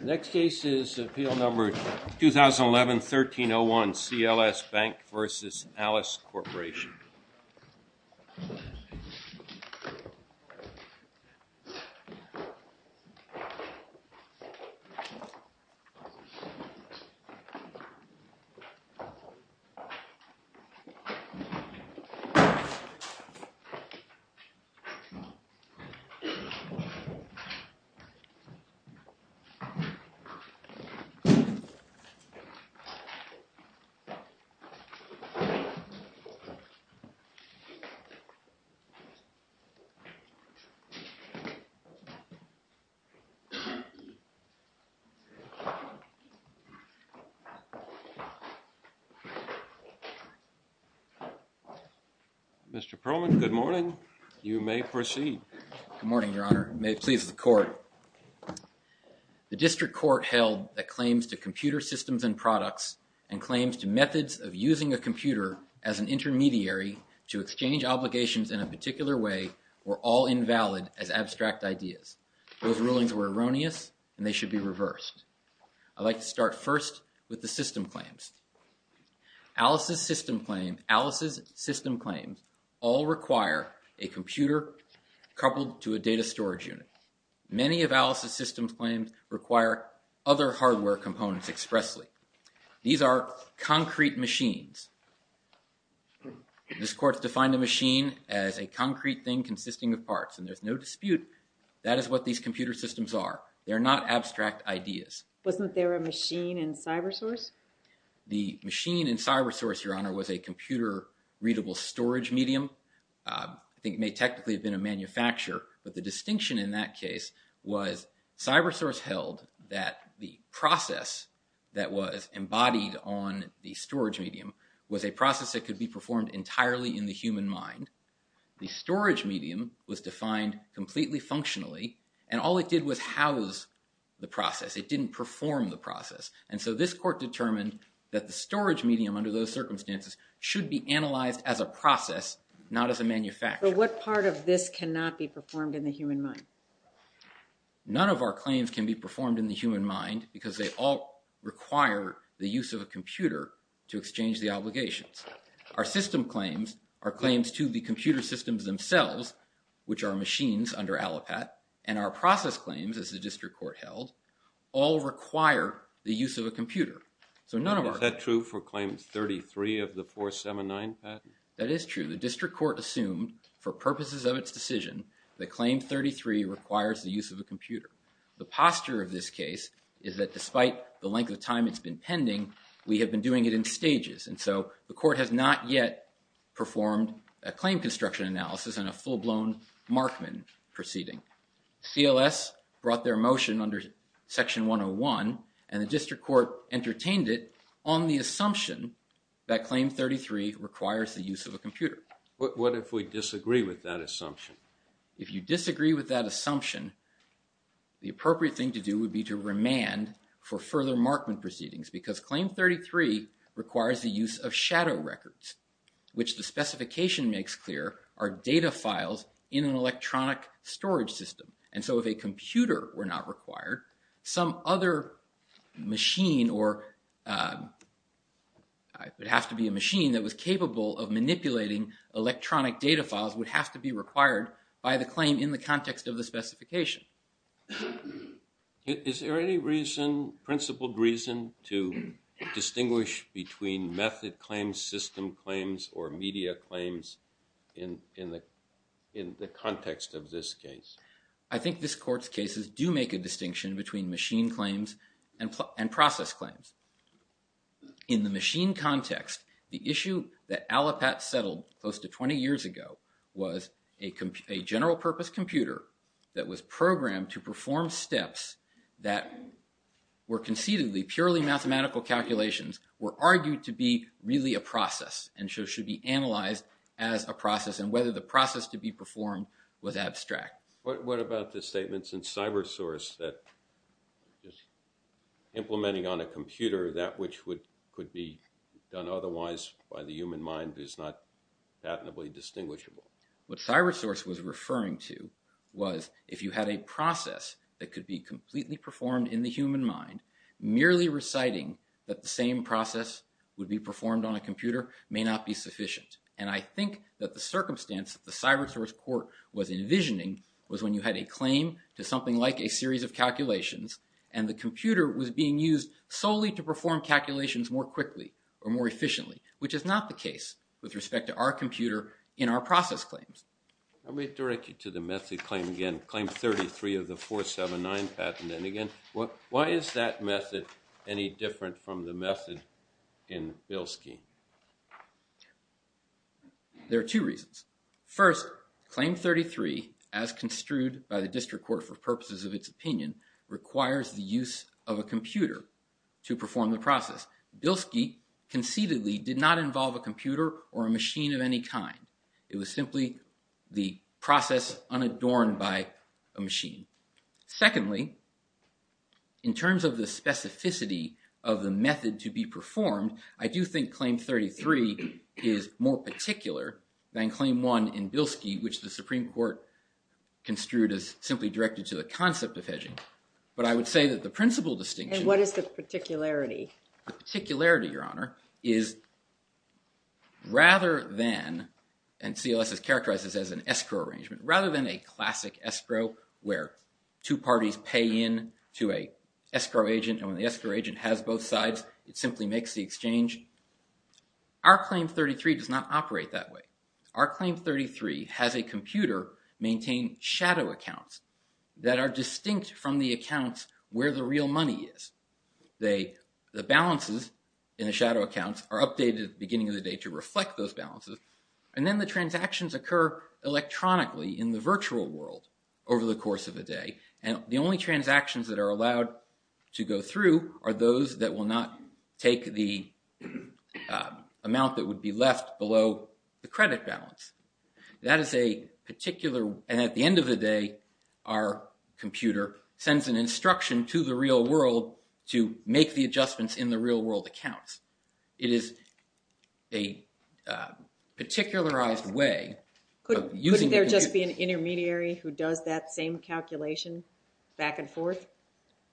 Next case is Appeal Number 2011-1301 CLS BANK v. ALICE CORPORATION Mr. Perlman, good morning. You may proceed. Good morning, Your Honor. May it please the Court. The District Court held that claims to computer systems and products and claims to methods of using a computer as an intermediary to exchange obligations in a particular way were all invalid as abstract ideas. Those rulings were erroneous and they should be reversed. I'd like to start first with the system claims. Alice's system claims all require a computer coupled to a data storage unit. Many of Alice's system claims require other hardware components expressly. These are concrete machines. This Court's defined a machine as a concrete thing consisting of parts and there's no dispute that is what these computer systems are. They're not abstract ideas. Wasn't there a machine in CyberSource? The machine in CyberSource, Your Honor, was a computer-readable storage medium. I think it may technically have been a manufacturer, but the distinction in that case was CyberSource held that the process that was embodied on the storage medium was a process that could be performed entirely in the human mind. The storage medium was defined completely functionally and all it did was house the process. It didn't perform the process. And so this Court determined that the storage medium under those circumstances should be analyzed as a process, not as a manufacturer. But what part of this cannot be performed in the human mind? None of our claims can be performed in the human mind because they all require the use of a computer to exchange the obligations. Our system claims, our claims to the computer systems themselves, which are machines under ALIPAT, and our process claims, as the District Court held, all require the use of a computer. Is that true for Claim 33 of the 479 patent? That is true. The District Court assumed for purposes of its decision that Claim 33 requires the use of a computer. The posture of this case is that despite the length of time it's been pending, we have been doing it in stages. And so the Court has not yet performed a claim construction analysis and a full-blown Markman proceeding. CLS brought their motion under Section 101 and the District Court entertained it on the assumption that Claim 33 requires the use of a computer. What if we disagree with that assumption? If you disagree with that assumption, the appropriate thing to do would be to remand for further Markman proceedings because Claim 33 requires the use of shadow records, which the specification makes clear are data files in an electronic storage system. And so if a computer were not required, some other machine or it would have to be a machine that was capable of manipulating electronic data files would have to be required by the claim in the context of the specification. Is there any reason, principled reason, to distinguish between method claims, system claims, or media claims in the context of this case? I think this Court's cases do make a distinction between machine claims and process claims. In the machine context, the issue that Allipat settled close to 20 years ago was a general purpose computer that was programmed to perform steps that were concededly purely mathematical calculations, were argued to be really a process and should be analyzed as a process and whether the process to be performed was abstract. What about the statements in CyberSource that implementing on a computer that which could be done otherwise by the human mind is not patently distinguishable? What CyberSource was referring to was if you had a process that could be completely performed in the human mind, merely reciting that the same process would be performed on a computer may not be sufficient. And I think that the circumstance that the CyberSource Court was envisioning was when you had a claim to something like a series of calculations and the computer was being used solely to perform calculations more quickly or more efficiently, which is not the case with respect to our computer in our process claims. Let me direct you to the method claim again, Claim 33 of the 479 patent. And again, why is that method any different from the method in Bilski? There are two reasons. First, Claim 33, as construed by the District Court for purposes of its opinion, requires the use of a computer to perform the process. Bilski conceitedly did not involve a computer or a machine of any kind. It was simply the process unadorned by a machine. Secondly, in terms of the specificity of the method to be performed, I do think Claim 33 is more particular than Claim 1 in Bilski, which the Supreme Court construed as simply directed to the concept of hedging. But I would say that the principal distinction... And what is the particularity? The particularity, Your Honor, is rather than... And CLS is characterized as an escrow arrangement. Rather than a classic escrow where two parties pay in to an escrow agent and when the escrow agent has both sides, it simply makes the exchange. Our Claim 33 does not operate that way. Our Claim 33 has a computer maintain shadow accounts that are distinct from the accounts where the real money is. The balances in the shadow accounts are updated at the beginning of the day to reflect those balances and then the transactions occur electronically in the virtual world over the course of a day and the only transactions that are allowed to go through are those that will not take the amount that would be left below the credit balance. That is a particular... And at the end of the day, our computer sends an instruction to the real world to make the adjustments in the real world accounts. It is a particularized way of using... Couldn't there just be an intermediary who does that same calculation back and forth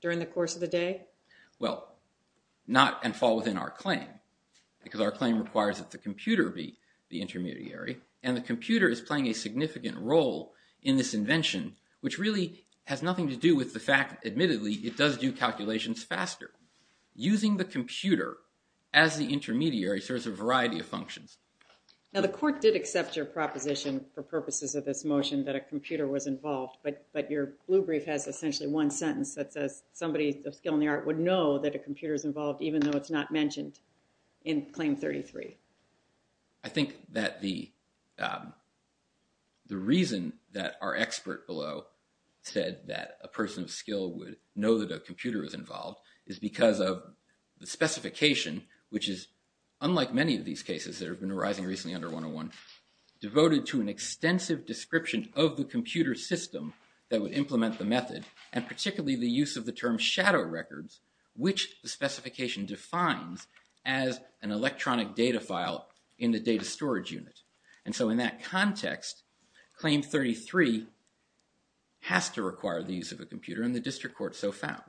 during the course of the day? Well, not and fall within our claim because our claim requires that the computer be the intermediary and the computer is playing a significant role in this invention which really has nothing to do with the fact, admittedly, it does do calculations faster. Using the computer as the intermediary serves a variety of functions. Now the court did accept your proposition for purposes of this motion that a computer was involved but your blue brief has essentially one sentence that says somebody of skill in the art would know that a computer is involved even though it's not mentioned in Claim 33. I think that the reason that our expert below said that a person of skill would know that a computer is involved is because of the specification which is unlike many of these cases that have been arising recently under 101 devoted to an extensive description of the computer system that would implement the method and particularly the use of the term shadow records which the specification defines as an electronic data file in the data storage unit. And so in that context, Claim 33 has to require the use of a computer and the district court so found.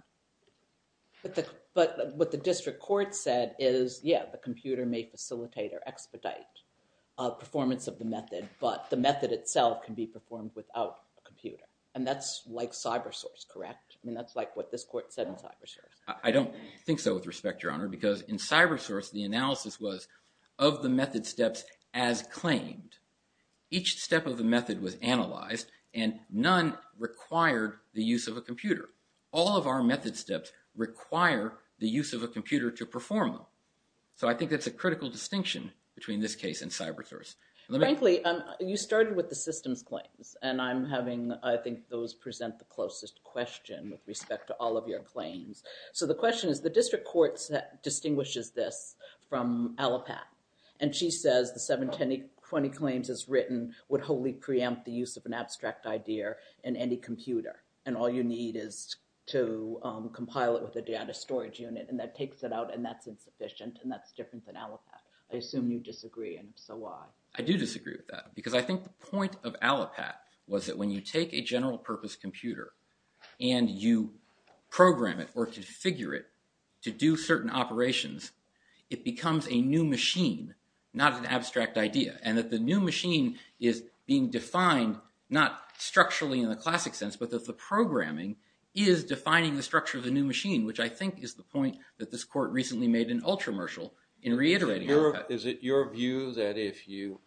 But what the district court said is, yeah, the computer may facilitate or expedite performance of the method but the method itself can be performed without a computer. And that's like cybersource, correct? I mean, that's like what this court said in cybersource. I don't think so with respect, Your Honor, because in cybersource the analysis was of the method steps as claimed. Each step of the method was analyzed and none required the use of a computer. All of our method steps require the use of a computer to perform them. So I think that's a critical distinction between this case and cybersource. Frankly, you started with the systems claims. And I'm having, I think, those present the closest question with respect to all of your claims. So the question is, the district court distinguishes this from Allopath. And she says the 720 claims as written would wholly preempt the use of an abstract idea in any computer. And all you need is to compile it with a data storage unit. And that takes it out and that's insufficient and that's different than Allopath. I assume you disagree and if so, why? I do disagree with that because I think the point of Allopath was that when you take a general purpose computer and you program it or configure it to do certain operations, it becomes a new machine, not an abstract idea. And that the new machine is being defined not structurally in the classic sense, but that the programming is defining the structure of the new machine, which I think is the point that this court recently made in Ultramershal in reiterating Allopath. Is it your view that if you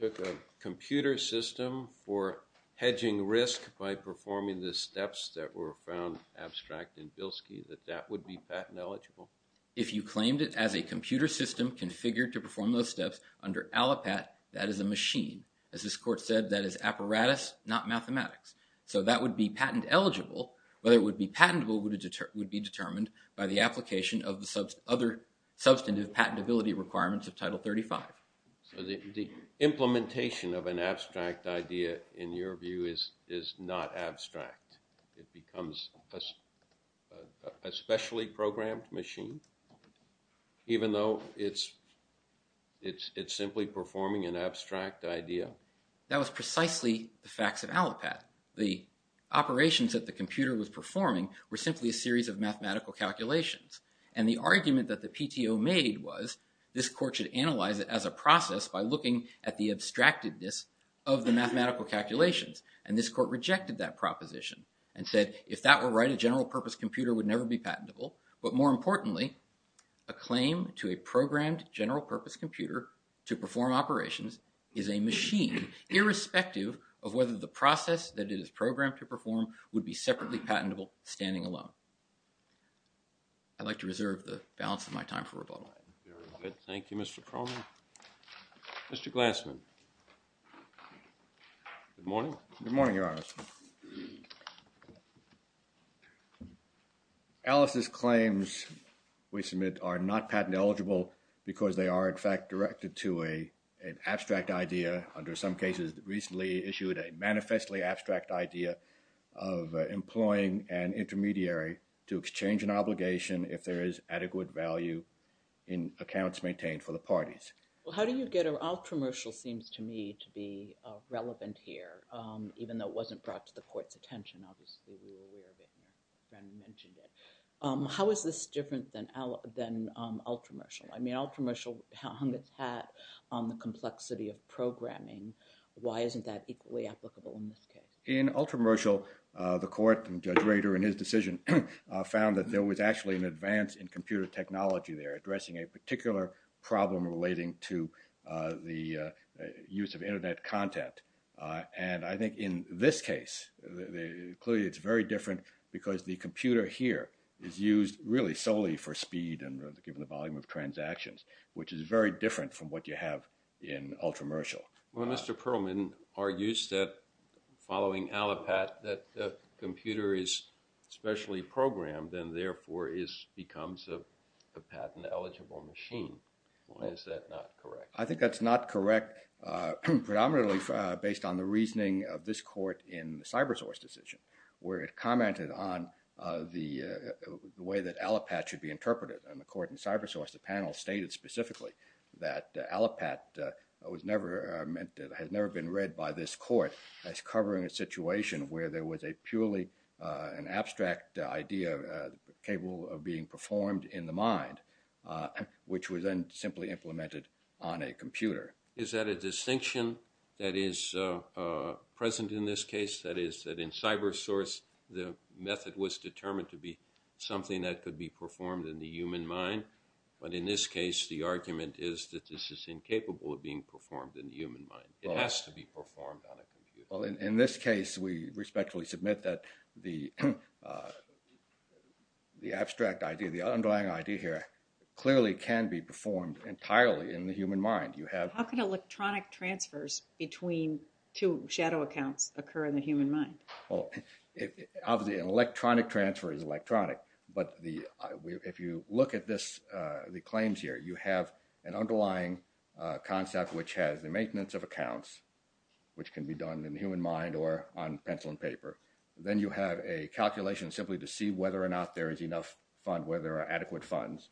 took a computer system for hedging risk by performing the steps that were found abstract in Bilski, that that would be patent eligible? If you claimed it as a computer system configured to perform those steps under Allopath, that is a machine. As this court said, that is apparatus, not mathematics. So that would be patent eligible, whether it would be patentable would be determined by the application of the other substantive patentability requirements of Title 35. So the implementation of an abstract idea in your view is not abstract. It becomes a specially programmed machine, even though it's simply performing an abstract idea? That was precisely the facts of Allopath. The operations that the computer was performing were simply a series of mathematical calculations. And the argument that the PTO made was this court should analyze it as a process by looking at the abstractedness of the mathematical calculations. And this court rejected that proposition and said if that were right, a general purpose computer would never be patentable. But more importantly, a claim to a programmed general purpose computer to perform operations is a machine, irrespective of whether the process that it is programmed to perform would be separately patentable standing alone. I'd like to reserve the balance of my time for rebuttal. Very good. Thank you, Mr. Cronin. Mr. Glassman. Good morning. Good morning, Your Honor. Mr. Glassman. Alice's claims, we submit, are not patent eligible because they are in fact directed to an abstract idea, under some cases recently issued a manifestly abstract idea of employing an intermediary to exchange an obligation if there is adequate value in accounts maintained for the parties. Well, how do you get, Ultramershal seems to me to be relevant here, even though it wasn't brought to the court's attention. Obviously, we were aware of it and your friend mentioned it. How is this different than Ultramershal? I mean, Ultramershal hung its hat on the complexity of programming. Why isn't that equally applicable in this case? In Ultramershal, the court, Judge Rader in his decision, found that there was actually an advance in computer technology there, addressing a particular problem relating to the use of Internet content. And I think in this case, clearly it's very different because the computer here is used really solely for speed and given the volume of transactions, which is very different from what you have in Ultramershal. Well, Mr. Perlman argues that following Allipat, that the computer is specially programmed and therefore becomes a patent-eligible machine. Is that not correct? I think that's not correct, predominantly based on the reasoning of this court in the CyberSource decision, where it commented on the way that Allipat should be interpreted. And the court in CyberSource, the panel, stated specifically that Allipat has never been read by this court as covering a situation where there was a purely abstract idea capable of being performed in the mind, which was then simply implemented on a computer. Is that a distinction that is present in this case? That is, that in CyberSource, the method was determined to be something that could be performed in the human mind? But in this case, the argument is that this is incapable of being performed in the human mind. It has to be performed on a computer. Well, in this case, we respectfully submit that the abstract idea, the underlying idea here, clearly can be performed entirely in the human mind. How can electronic transfers between two shadow accounts occur in the human mind? Obviously, an electronic transfer is electronic, but if you look at the claims here, you have an underlying concept which has the maintenance of accounts, which can be done in the human mind or on pencil and paper. Then you have a calculation simply to see whether or not there is enough fund, whether there are adequate funds,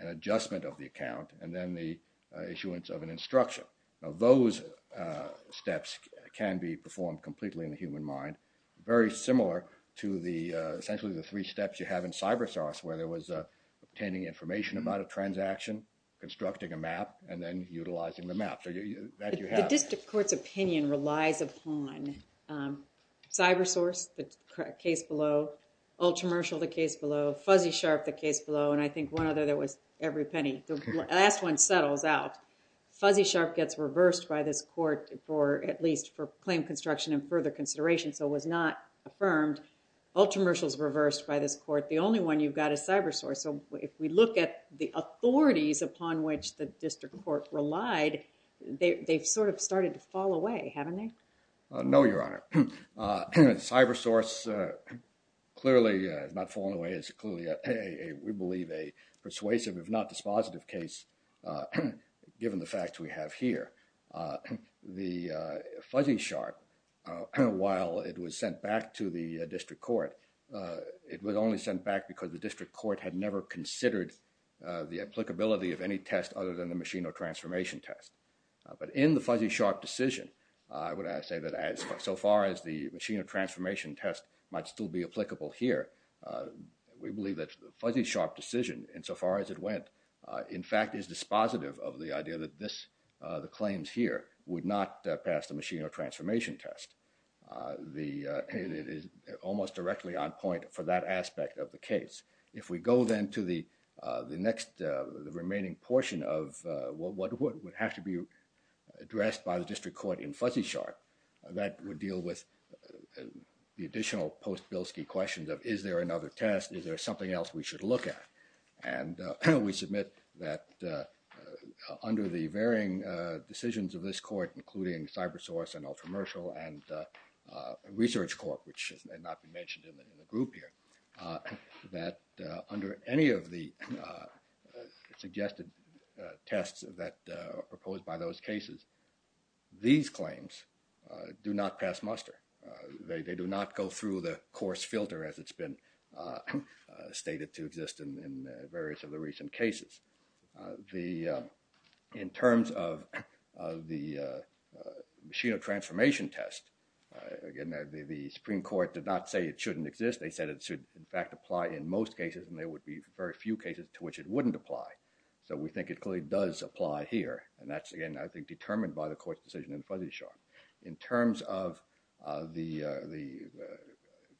an adjustment of the account, and then the issuance of an instruction. Now, those steps can be performed completely in the human mind, very similar to essentially the three steps you have in CyberSource, where there was obtaining information about a transaction, constructing a map, and then utilizing the map. The district court's opinion relies upon CyberSource, the case below, Ultramershal, the case below, Fuzzy Sharp, the case below, and I think one other that was every penny. The last one settles out. Fuzzy Sharp gets reversed by this court for at least for claim construction and further consideration, so it was not affirmed. Ultramershal is reversed by this court. The only one you've got is CyberSource. So if we look at the authorities upon which the district court relied, they've sort of started to fall away, haven't they? No, Your Honor. CyberSource clearly has not fallen away. It's clearly, we believe, a persuasive, if not dispositive case, given the facts we have here. The Fuzzy Sharp, while it was sent back to the district court, it was only sent back because the district court had never considered the applicability of any test other than the machine or transformation test. But in the Fuzzy Sharp decision, I would say that so far as the machine or transformation test might still be applicable here, we believe that the Fuzzy Sharp decision, insofar as it went, in fact is dispositive of the idea that this, the claims here, would not pass the machine or transformation test. It is almost directly on point for that aspect of the case. If we go then to the next remaining portion of what would have to be addressed by the district court in Fuzzy Sharp, that would deal with the additional post-Bilski questions of is there another test? Is there something else we should look at? And we submit that under the varying decisions of this court, including CyberSource and Ultramershal and Research Corp, which had not been mentioned in the group here, that under any of the suggested tests that are proposed by those cases, these claims do not pass muster. They do not go through the course filter as it's been stated to exist in various of the recent cases. In terms of the machine or transformation test, again, the Supreme Court did not say it shouldn't exist. They said it should, in fact, apply in most cases and there would be very few cases to which it wouldn't apply. So we think it clearly does apply here and that's, again, I think determined by the court's decision in Fuzzy Sharp. In terms of the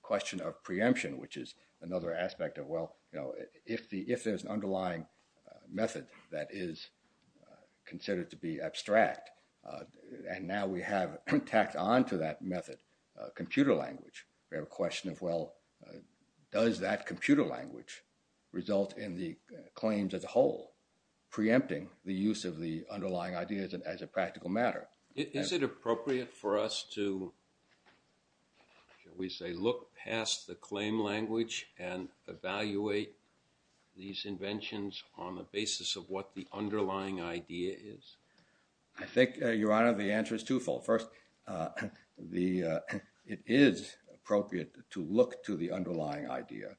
question of preemption, which is another aspect of, well, if there's an underlying method that is considered to be abstract and now we have tacked on to that method computer language, we have a question of, well, does that computer language result in the claims as a whole preempting the use of the underlying ideas as a practical matter? Is it appropriate for us to, shall we say, look past the claim language and evaluate these inventions on the basis of what the underlying idea is? I think, Your Honor, the answer is twofold. First, it is appropriate to look to the underlying idea.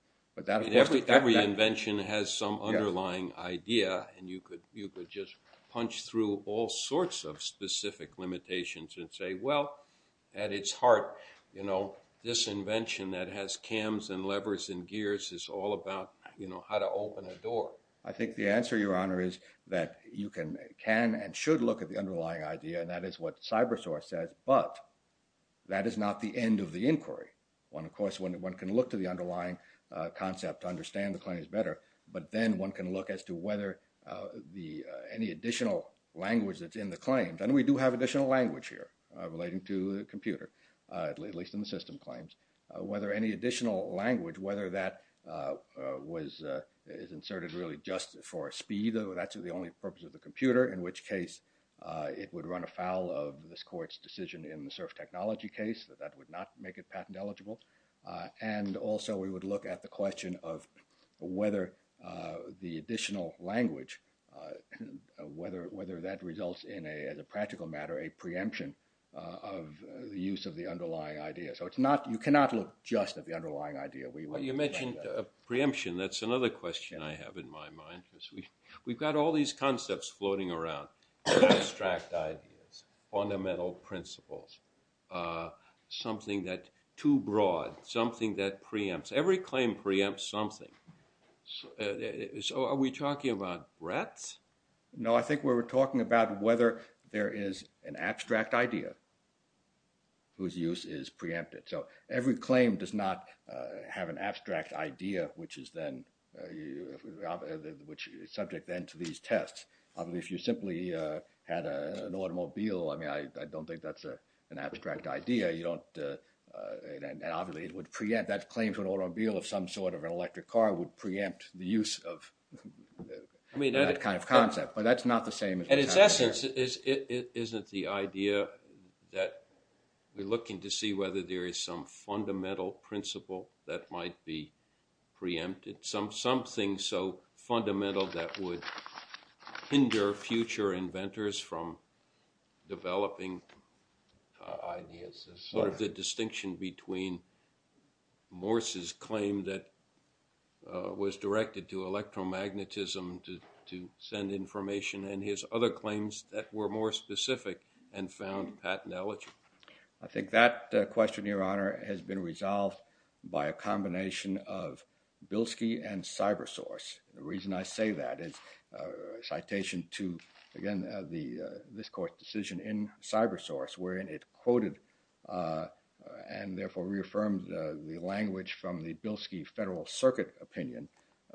Every invention has some underlying idea and you could just punch through all sorts of specific limitations and say, well, at its heart, this invention that has cams and levers and gears is all about how to open a door. I think the answer, Your Honor, is that you can and should look at the underlying idea and that is what CyberSource says, but that is not the end of the inquiry. Of course, one can look to the underlying concept to understand the claims better, but then one can look as to whether any additional language that's in the claims, and we do have additional language here relating to the computer, at least in the system claims, whether any additional language, whether that is inserted really just for speed, that's the only purpose of the computer, in which case it would run afoul of this Court's decision in the surf technology case, that that would not make it patent eligible, and also we would look at the question of whether the additional language, whether that results in, as a practical matter, a preemption of the use of the underlying idea. So you cannot look just at the underlying idea. You mentioned preemption. That's another question I have in my mind. We've got all these concepts floating around, abstract ideas, fundamental principles, something that's too broad, something that preempts. Every claim preempts something. So are we talking about rats? No, I think we're talking about whether there is an abstract idea whose use is preempted. So every claim does not have an abstract idea, which is then, which is subject then to these tests. Obviously, if you simply had an automobile, I mean, I don't think that's an abstract idea. I feel if some sort of an electric car would preempt the use of that kind of concept, but that's not the same as what's out there. In its essence, isn't the idea that we're looking to see whether there is some fundamental principle that might be preempted, something so fundamental that would hinder future inventors from developing ideas, sort of the distinction between Morse's claim that was directed to electromagnetism to send information and his other claims that were more specific and found patent elegy? I think that question, Your Honor, has been resolved by a combination of Bilski and CyberSource. The reason I say that is a citation to, again, this court's decision in CyberSource, wherein it quoted and therefore reaffirmed the language from the Bilski Federal Circuit opinion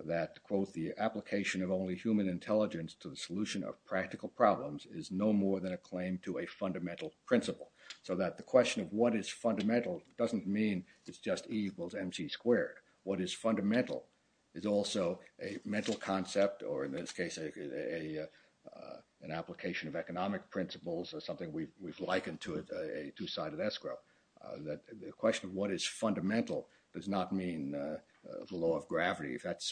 that, quote, the application of only human intelligence to the solution of practical problems is no more than a claim to a fundamental principle. So that the question of what is fundamental doesn't mean it's just E equals MC squared. What is fundamental is also a mental concept, or in this case an application of economic principles, or something we've likened to a two-sided escrow. The question of what is fundamental does not mean the law of gravity. But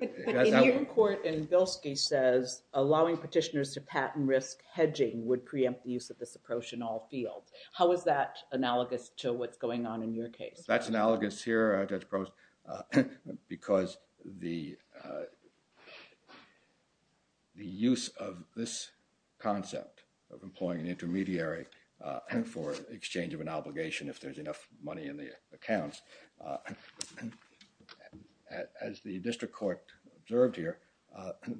in your court, Bilski says allowing petitioners to patent risk hedging would preempt the use of this approach in all fields. How is that analogous to what's going on in your case? That's analogous here, Judge Gross, because the use of this concept of employing an intermediary for exchange of an obligation if there's enough money in the accounts, as the district court observed here,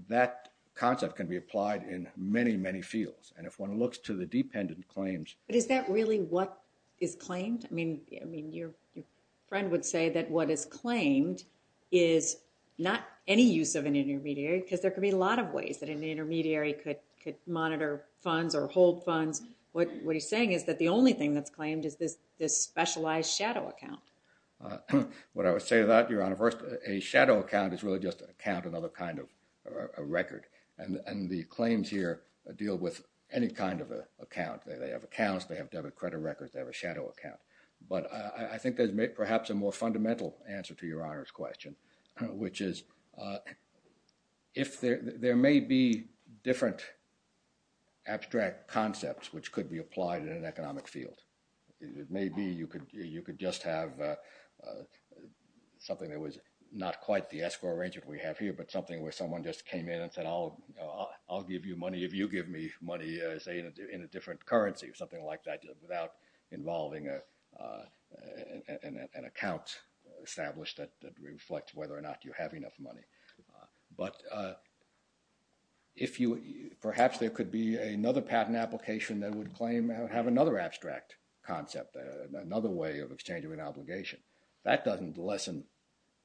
that concept can be applied in many, many fields. And if one looks to the dependent claims But is that really what is claimed? I mean, your friend would say that what is claimed is not any use of an intermediary, because there could be a lot of ways that an intermediary could monitor funds or hold funds. What he's saying is that the only thing that's claimed is this specialized shadow account. What I would say to that, Your Honor, first, a shadow account is really just an account, another kind of record. And the claims here deal with any kind of account. They have accounts, they have debit credit records, they have a shadow account. But I think there's perhaps a more fundamental answer to Your Honor's question, which is if there may be different abstract concepts which could be applied in an economic field. It may be you could just have something that was not quite the escrow arrangement we have here, but something where someone just came in and said, I'll give you money if you give me money, say, in a different currency or something like that, without involving an account established that reflects whether or not you have enough money. But perhaps there could be another patent application that would claim to have another abstract concept, another way of exchanging an obligation. That doesn't lessen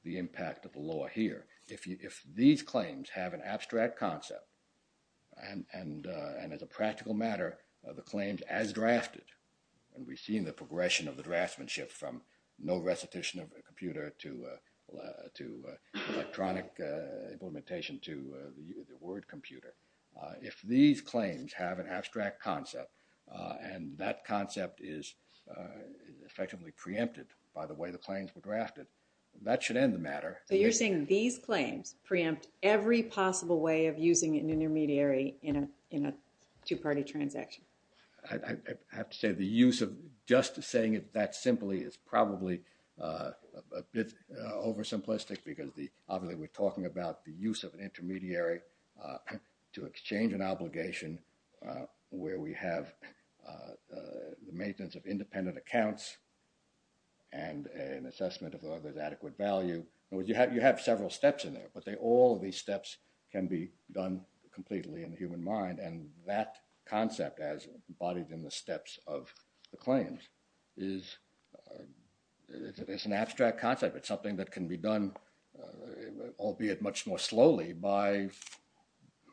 the impact of the law here. If these claims have an abstract concept and as a practical matter, the claims as drafted, and we've seen the progression of the draftsmanship from no recitation of a computer to electronic implementation to the word computer. If these claims have an abstract concept and that concept is effectively preempted by the way the claims were drafted, that should end the matter. So you're saying these claims preempt every possible way of using an intermediary in a two-party transaction. I have to say the use of just saying it that simply is probably a bit oversimplistic because we're talking about the use of an intermediary to exchange an obligation where we have the maintenance of independent accounts and an assessment of the other's adequate value. You have several steps in there, but all of these steps can be done completely in the human mind and that concept as embodied in the steps of the claims is an abstract concept. It's something that can be done, albeit much more slowly, by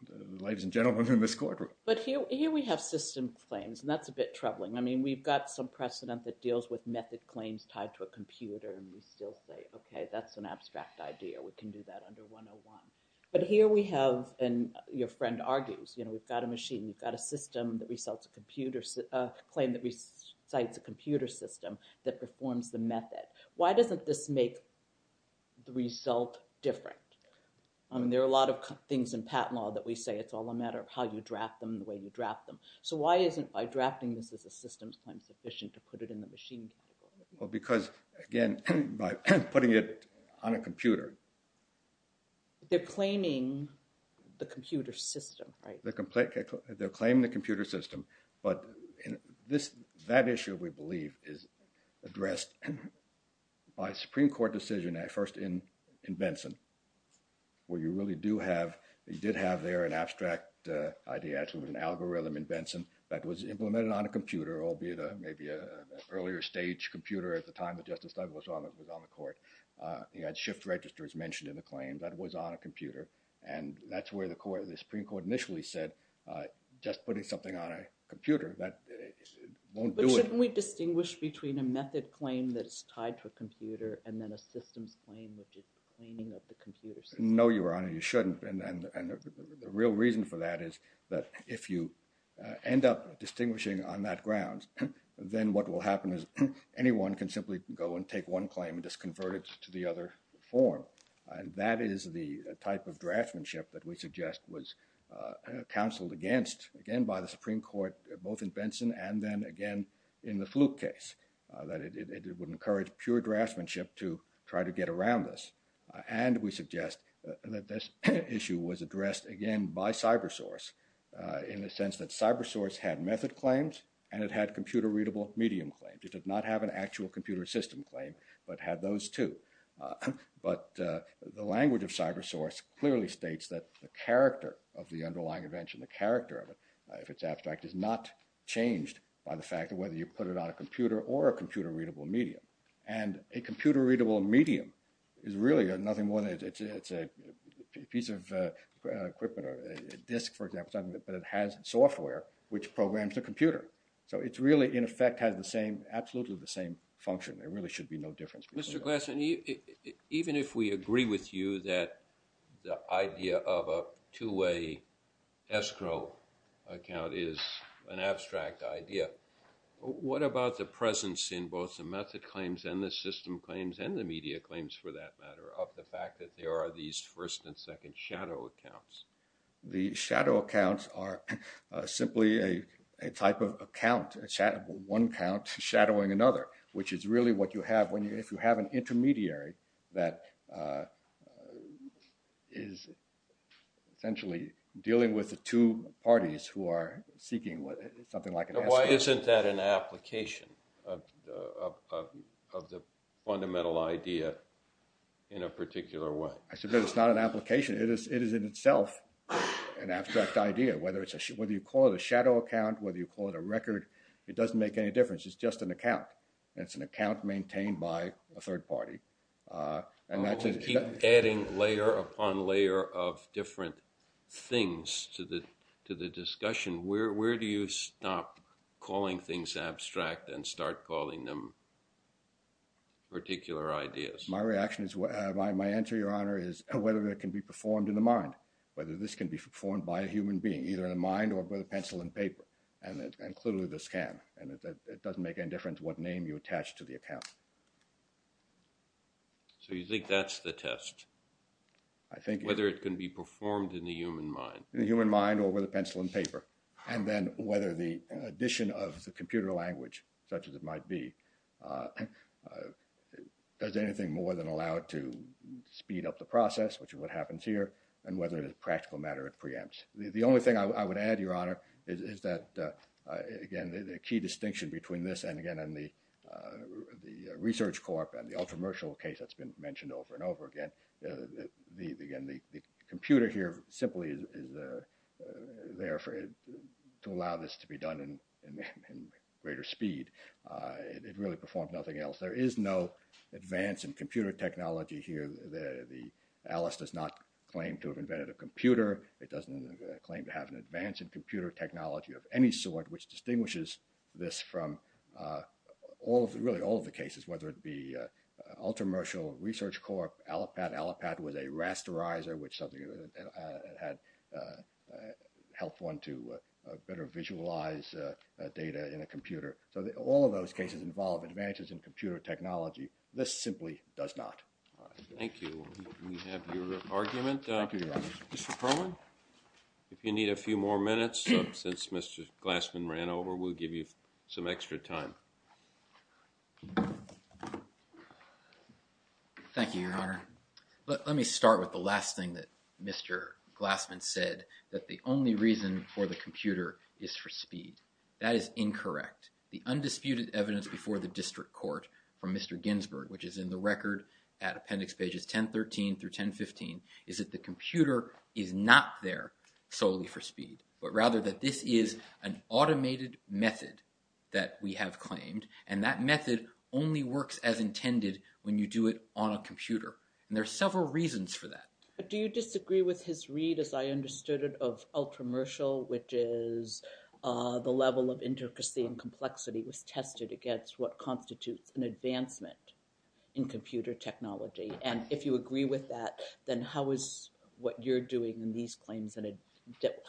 the ladies and gentlemen in this courtroom. But here we have system claims and that's a bit troubling. I mean, we've got some precedent that deals with method claims tied to a computer and we still say, okay, that's an abstract idea. We can do that under 101. But here we have, and your friend argues, you know, we've got a machine. We've got a claim that recites a computer system that performs the method. Why doesn't this make the result different? I mean, there are a lot of things in patent law that we say it's all a matter of how you draft them and the way you draft them. So why isn't by drafting this as a systems claim sufficient to put it in the machine category? Well, because, again, by putting it on a computer. They're claiming the computer system, right? They're claiming the computer system, but that issue, we believe, is addressed by a Supreme Court decision at first in Benson where you really do have, you did have there an abstract idea. Actually, it was an algorithm in Benson that was implemented on a computer, albeit maybe an earlier stage computer at the time that Justice Douglas was on the court. He had shift registers mentioned in the claim that was on a computer. And that's where the Supreme Court initially said just putting something on a computer, that won't do it. Shouldn't we distinguish between a method claim that's tied to a computer and then a systems claim, which is claiming of the computer system? No, Your Honor, you shouldn't. And the real reason for that is that if you end up distinguishing on that ground, then what will happen is anyone can simply go and take one claim and just convert it to the other form. And that is the type of draftsmanship that we suggest was counseled against, again, by the Supreme Court, both in Benson and then again in the Fluke case. That it would encourage pure draftsmanship to try to get around this. And we suggest that this issue was addressed, again, by CyberSource in the sense that CyberSource had method claims and it had computer-readable medium claims. It did not have an actual computer system claim, but had those two. But the language of CyberSource clearly states that the character of the underlying invention, the character of it, if it's abstract, is not changed by the fact of whether you put it on a computer or a computer-readable medium. And a computer-readable medium is really nothing more than it's a piece of equipment or a disk, for example, but it has software which programs the computer. So it really, in effect, has the same, absolutely the same function. There really should be no difference. Mr. Glassman, even if we agree with you that the idea of a two-way escrow account is an abstract idea, what about the presence in both the method claims and the system claims and the media claims, for that matter, of the fact that there are these first and second shadow accounts? The shadow accounts are simply a type of account, one account shadowing another, which is really what you have if you have an intermediary that is essentially dealing with the two parties who are seeking something like an escrow. Why isn't that an application of the fundamental idea in a particular way? I submit it's not an application. It is in itself an abstract idea. Whether you call it a shadow account, whether you call it a record, it doesn't make any difference. It's just an account, and it's an account maintained by a third party. And that's a… You keep adding layer upon layer of different things to the discussion. Where do you stop calling things abstract and start calling them particular ideas? My answer, Your Honor, is whether it can be performed in the mind, whether this can be performed by a human being, either in the mind or with a pencil and paper. And clearly this can, and it doesn't make any difference what name you attach to the account. So you think that's the test? I think… Whether it can be performed in the human mind. In the human mind or with a pencil and paper. And then whether the addition of the computer language, such as it might be, does anything more than allow it to speed up the process, which is what happens here. And whether it is a practical matter, it preempts. The only thing I would add, Your Honor, is that, again, the key distinction between this and, again, the research corp and the ultra-mercial case that's been mentioned over and over again. The computer here simply is there to allow this to be done in greater speed. It really performs nothing else. There is no advance in computer technology here. The Alice does not claim to have invented a computer. It doesn't claim to have an advance in computer technology of any sort, which distinguishes this from all, really all of the cases, whether it be ultra-mercial, research corp, Alipad. Alipad was a rasterizer, which something that had helped one to better visualize data in a computer. So all of those cases involve advances in computer technology. This simply does not. Thank you. We have your argument. Thank you, Your Honor. Mr. Perlin, if you need a few more minutes, since Mr. Glassman ran over, we'll give you some extra time. Thank you, Your Honor. Let me start with the last thing that Mr. Glassman said, that the only reason for the computer is for speed. That is incorrect. The undisputed evidence before the district court from Mr. Ginsburg, which is in the record at appendix pages 1013 through 1015, is that the computer is not there solely for speed, but rather that this is an automated method that we have claimed. And that method only works as intended when you do it on a computer. And there are several reasons for that. Do you disagree with his read, as I understood it, of Ultramershal, which is the level of intricacy and complexity was tested against what constitutes an advancement in computer technology? And if you agree with that, then how is what you're doing in these claims,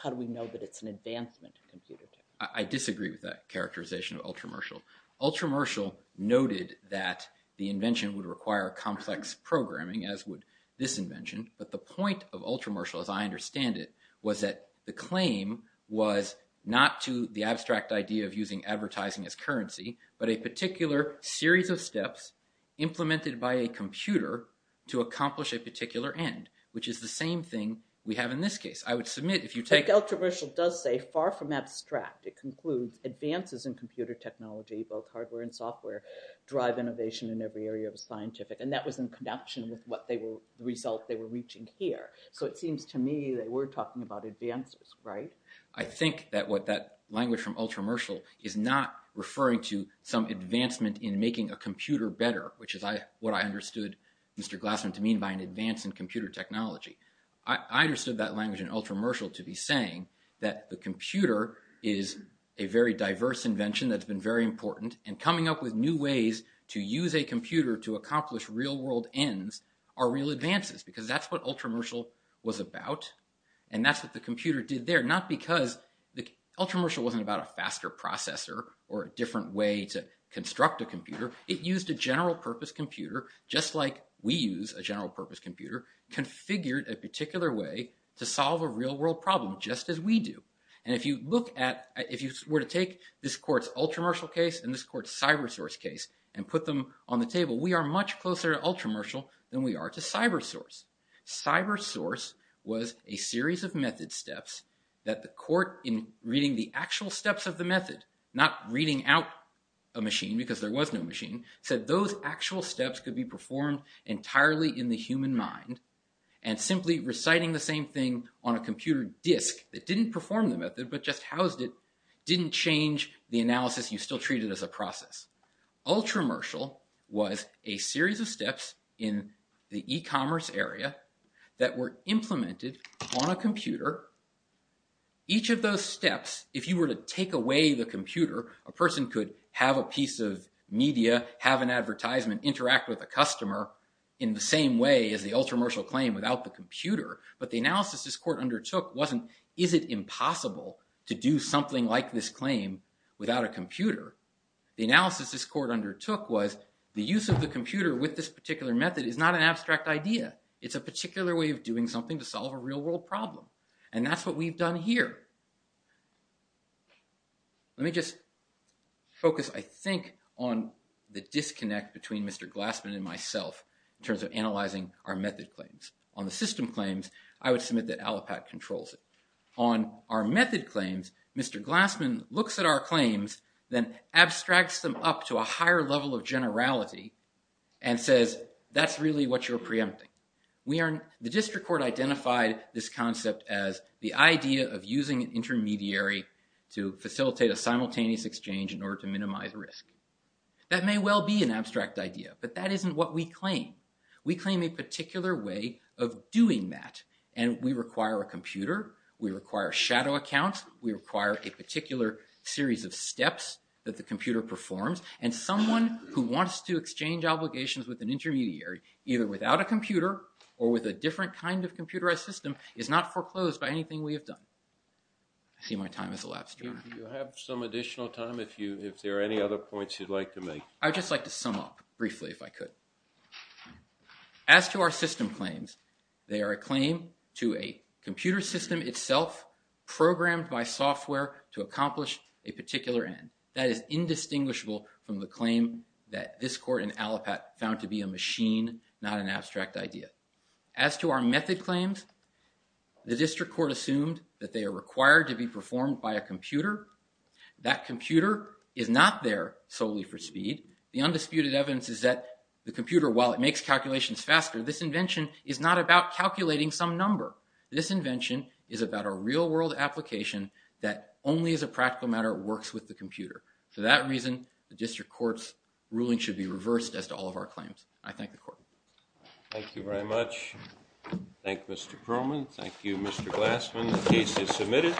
how do we know that it's an advancement in computer technology? I disagree with that characterization of Ultramershal. Ultramershal noted that the invention would require complex programming, as would this invention. But the point of Ultramershal, as I understand it, was that the claim was not to the abstract idea of using advertising as currency, but a particular series of steps implemented by a computer to accomplish a particular end, which is the same thing we have in this case. But Ultramershal does say, far from abstract, it concludes advances in computer technology, both hardware and software, drive innovation in every area of the scientific. And that was in connection with the result they were reaching here. So it seems to me that we're talking about advances, right? I think that what that language from Ultramershal is not referring to some advancement in making a computer better, which is what I understood Mr. Glassman to mean by an advance in computer technology. I understood that language in Ultramershal to be saying that the computer is a very diverse invention that's been very important. And coming up with new ways to use a computer to accomplish real world ends are real advances, because that's what Ultramershal was about. And that's what the computer did there, not because Ultramershal wasn't about a faster processor or a different way to construct a computer. It used a general purpose computer, just like we use a general purpose computer, configured a particular way to solve a real world problem, just as we do. And if you were to take this court's Ultramershal case and this court's CyberSource case and put them on the table, we are much closer to Ultramershal than we are to CyberSource. CyberSource was a series of method steps that the court, in reading the actual steps of the method, not reading out a machine because there was no machine, said those actual steps could be performed entirely in the human mind. And simply reciting the same thing on a computer disk that didn't perform the method, but just housed it, didn't change the analysis. You still treat it as a process. Ultramershal was a series of steps in the e-commerce area that were implemented on a computer. Each of those steps, if you were to take away the computer, a person could have a piece of media, have an advertisement, interact with a customer in the same way as the Ultramershal claim without the computer. But the analysis this court undertook wasn't, is it impossible to do something like this claim without a computer? The analysis this court undertook was, the use of the computer with this particular method is not an abstract idea. It's a particular way of doing something to solve a real world problem. And that's what we've done here. Let me just focus, I think, on the disconnect between Mr. Glassman and myself in terms of analyzing our method claims. On the system claims, I would submit that Allopat controls it. On our method claims, Mr. Glassman looks at our claims, then abstracts them up to a higher level of generality and says, that's really what you're preempting. The district court identified this concept as the idea of using an intermediary to facilitate a simultaneous exchange in order to minimize risk. That may well be an abstract idea, but that isn't what we claim. We claim a particular way of doing that, and we require a computer, we require shadow accounts, we require a particular series of steps that the computer performs, and someone who wants to exchange obligations with an intermediary, either without a computer or with a different kind of computerized system, is not foreclosed by anything we have done. I see my time has elapsed, Your Honor. Do you have some additional time if there are any other points you'd like to make? I'd just like to sum up briefly if I could. As to our system claims, they are a claim to a computer system itself programmed by software to accomplish a particular end. That is indistinguishable from the claim that this court in Allapatt found to be a machine, not an abstract idea. As to our method claims, the district court assumed that they are required to be performed by a computer. That computer is not there solely for speed. The undisputed evidence is that the computer, while it makes calculations faster, this invention is not about calculating some number. This invention is about a real-world application that only as a practical matter works with the computer. For that reason, the district court's ruling should be reversed as to all of our claims. I thank the court. Thank you very much. Thank you, Mr. Perlman. Thank you, Mr. Glassman. The case is submitted.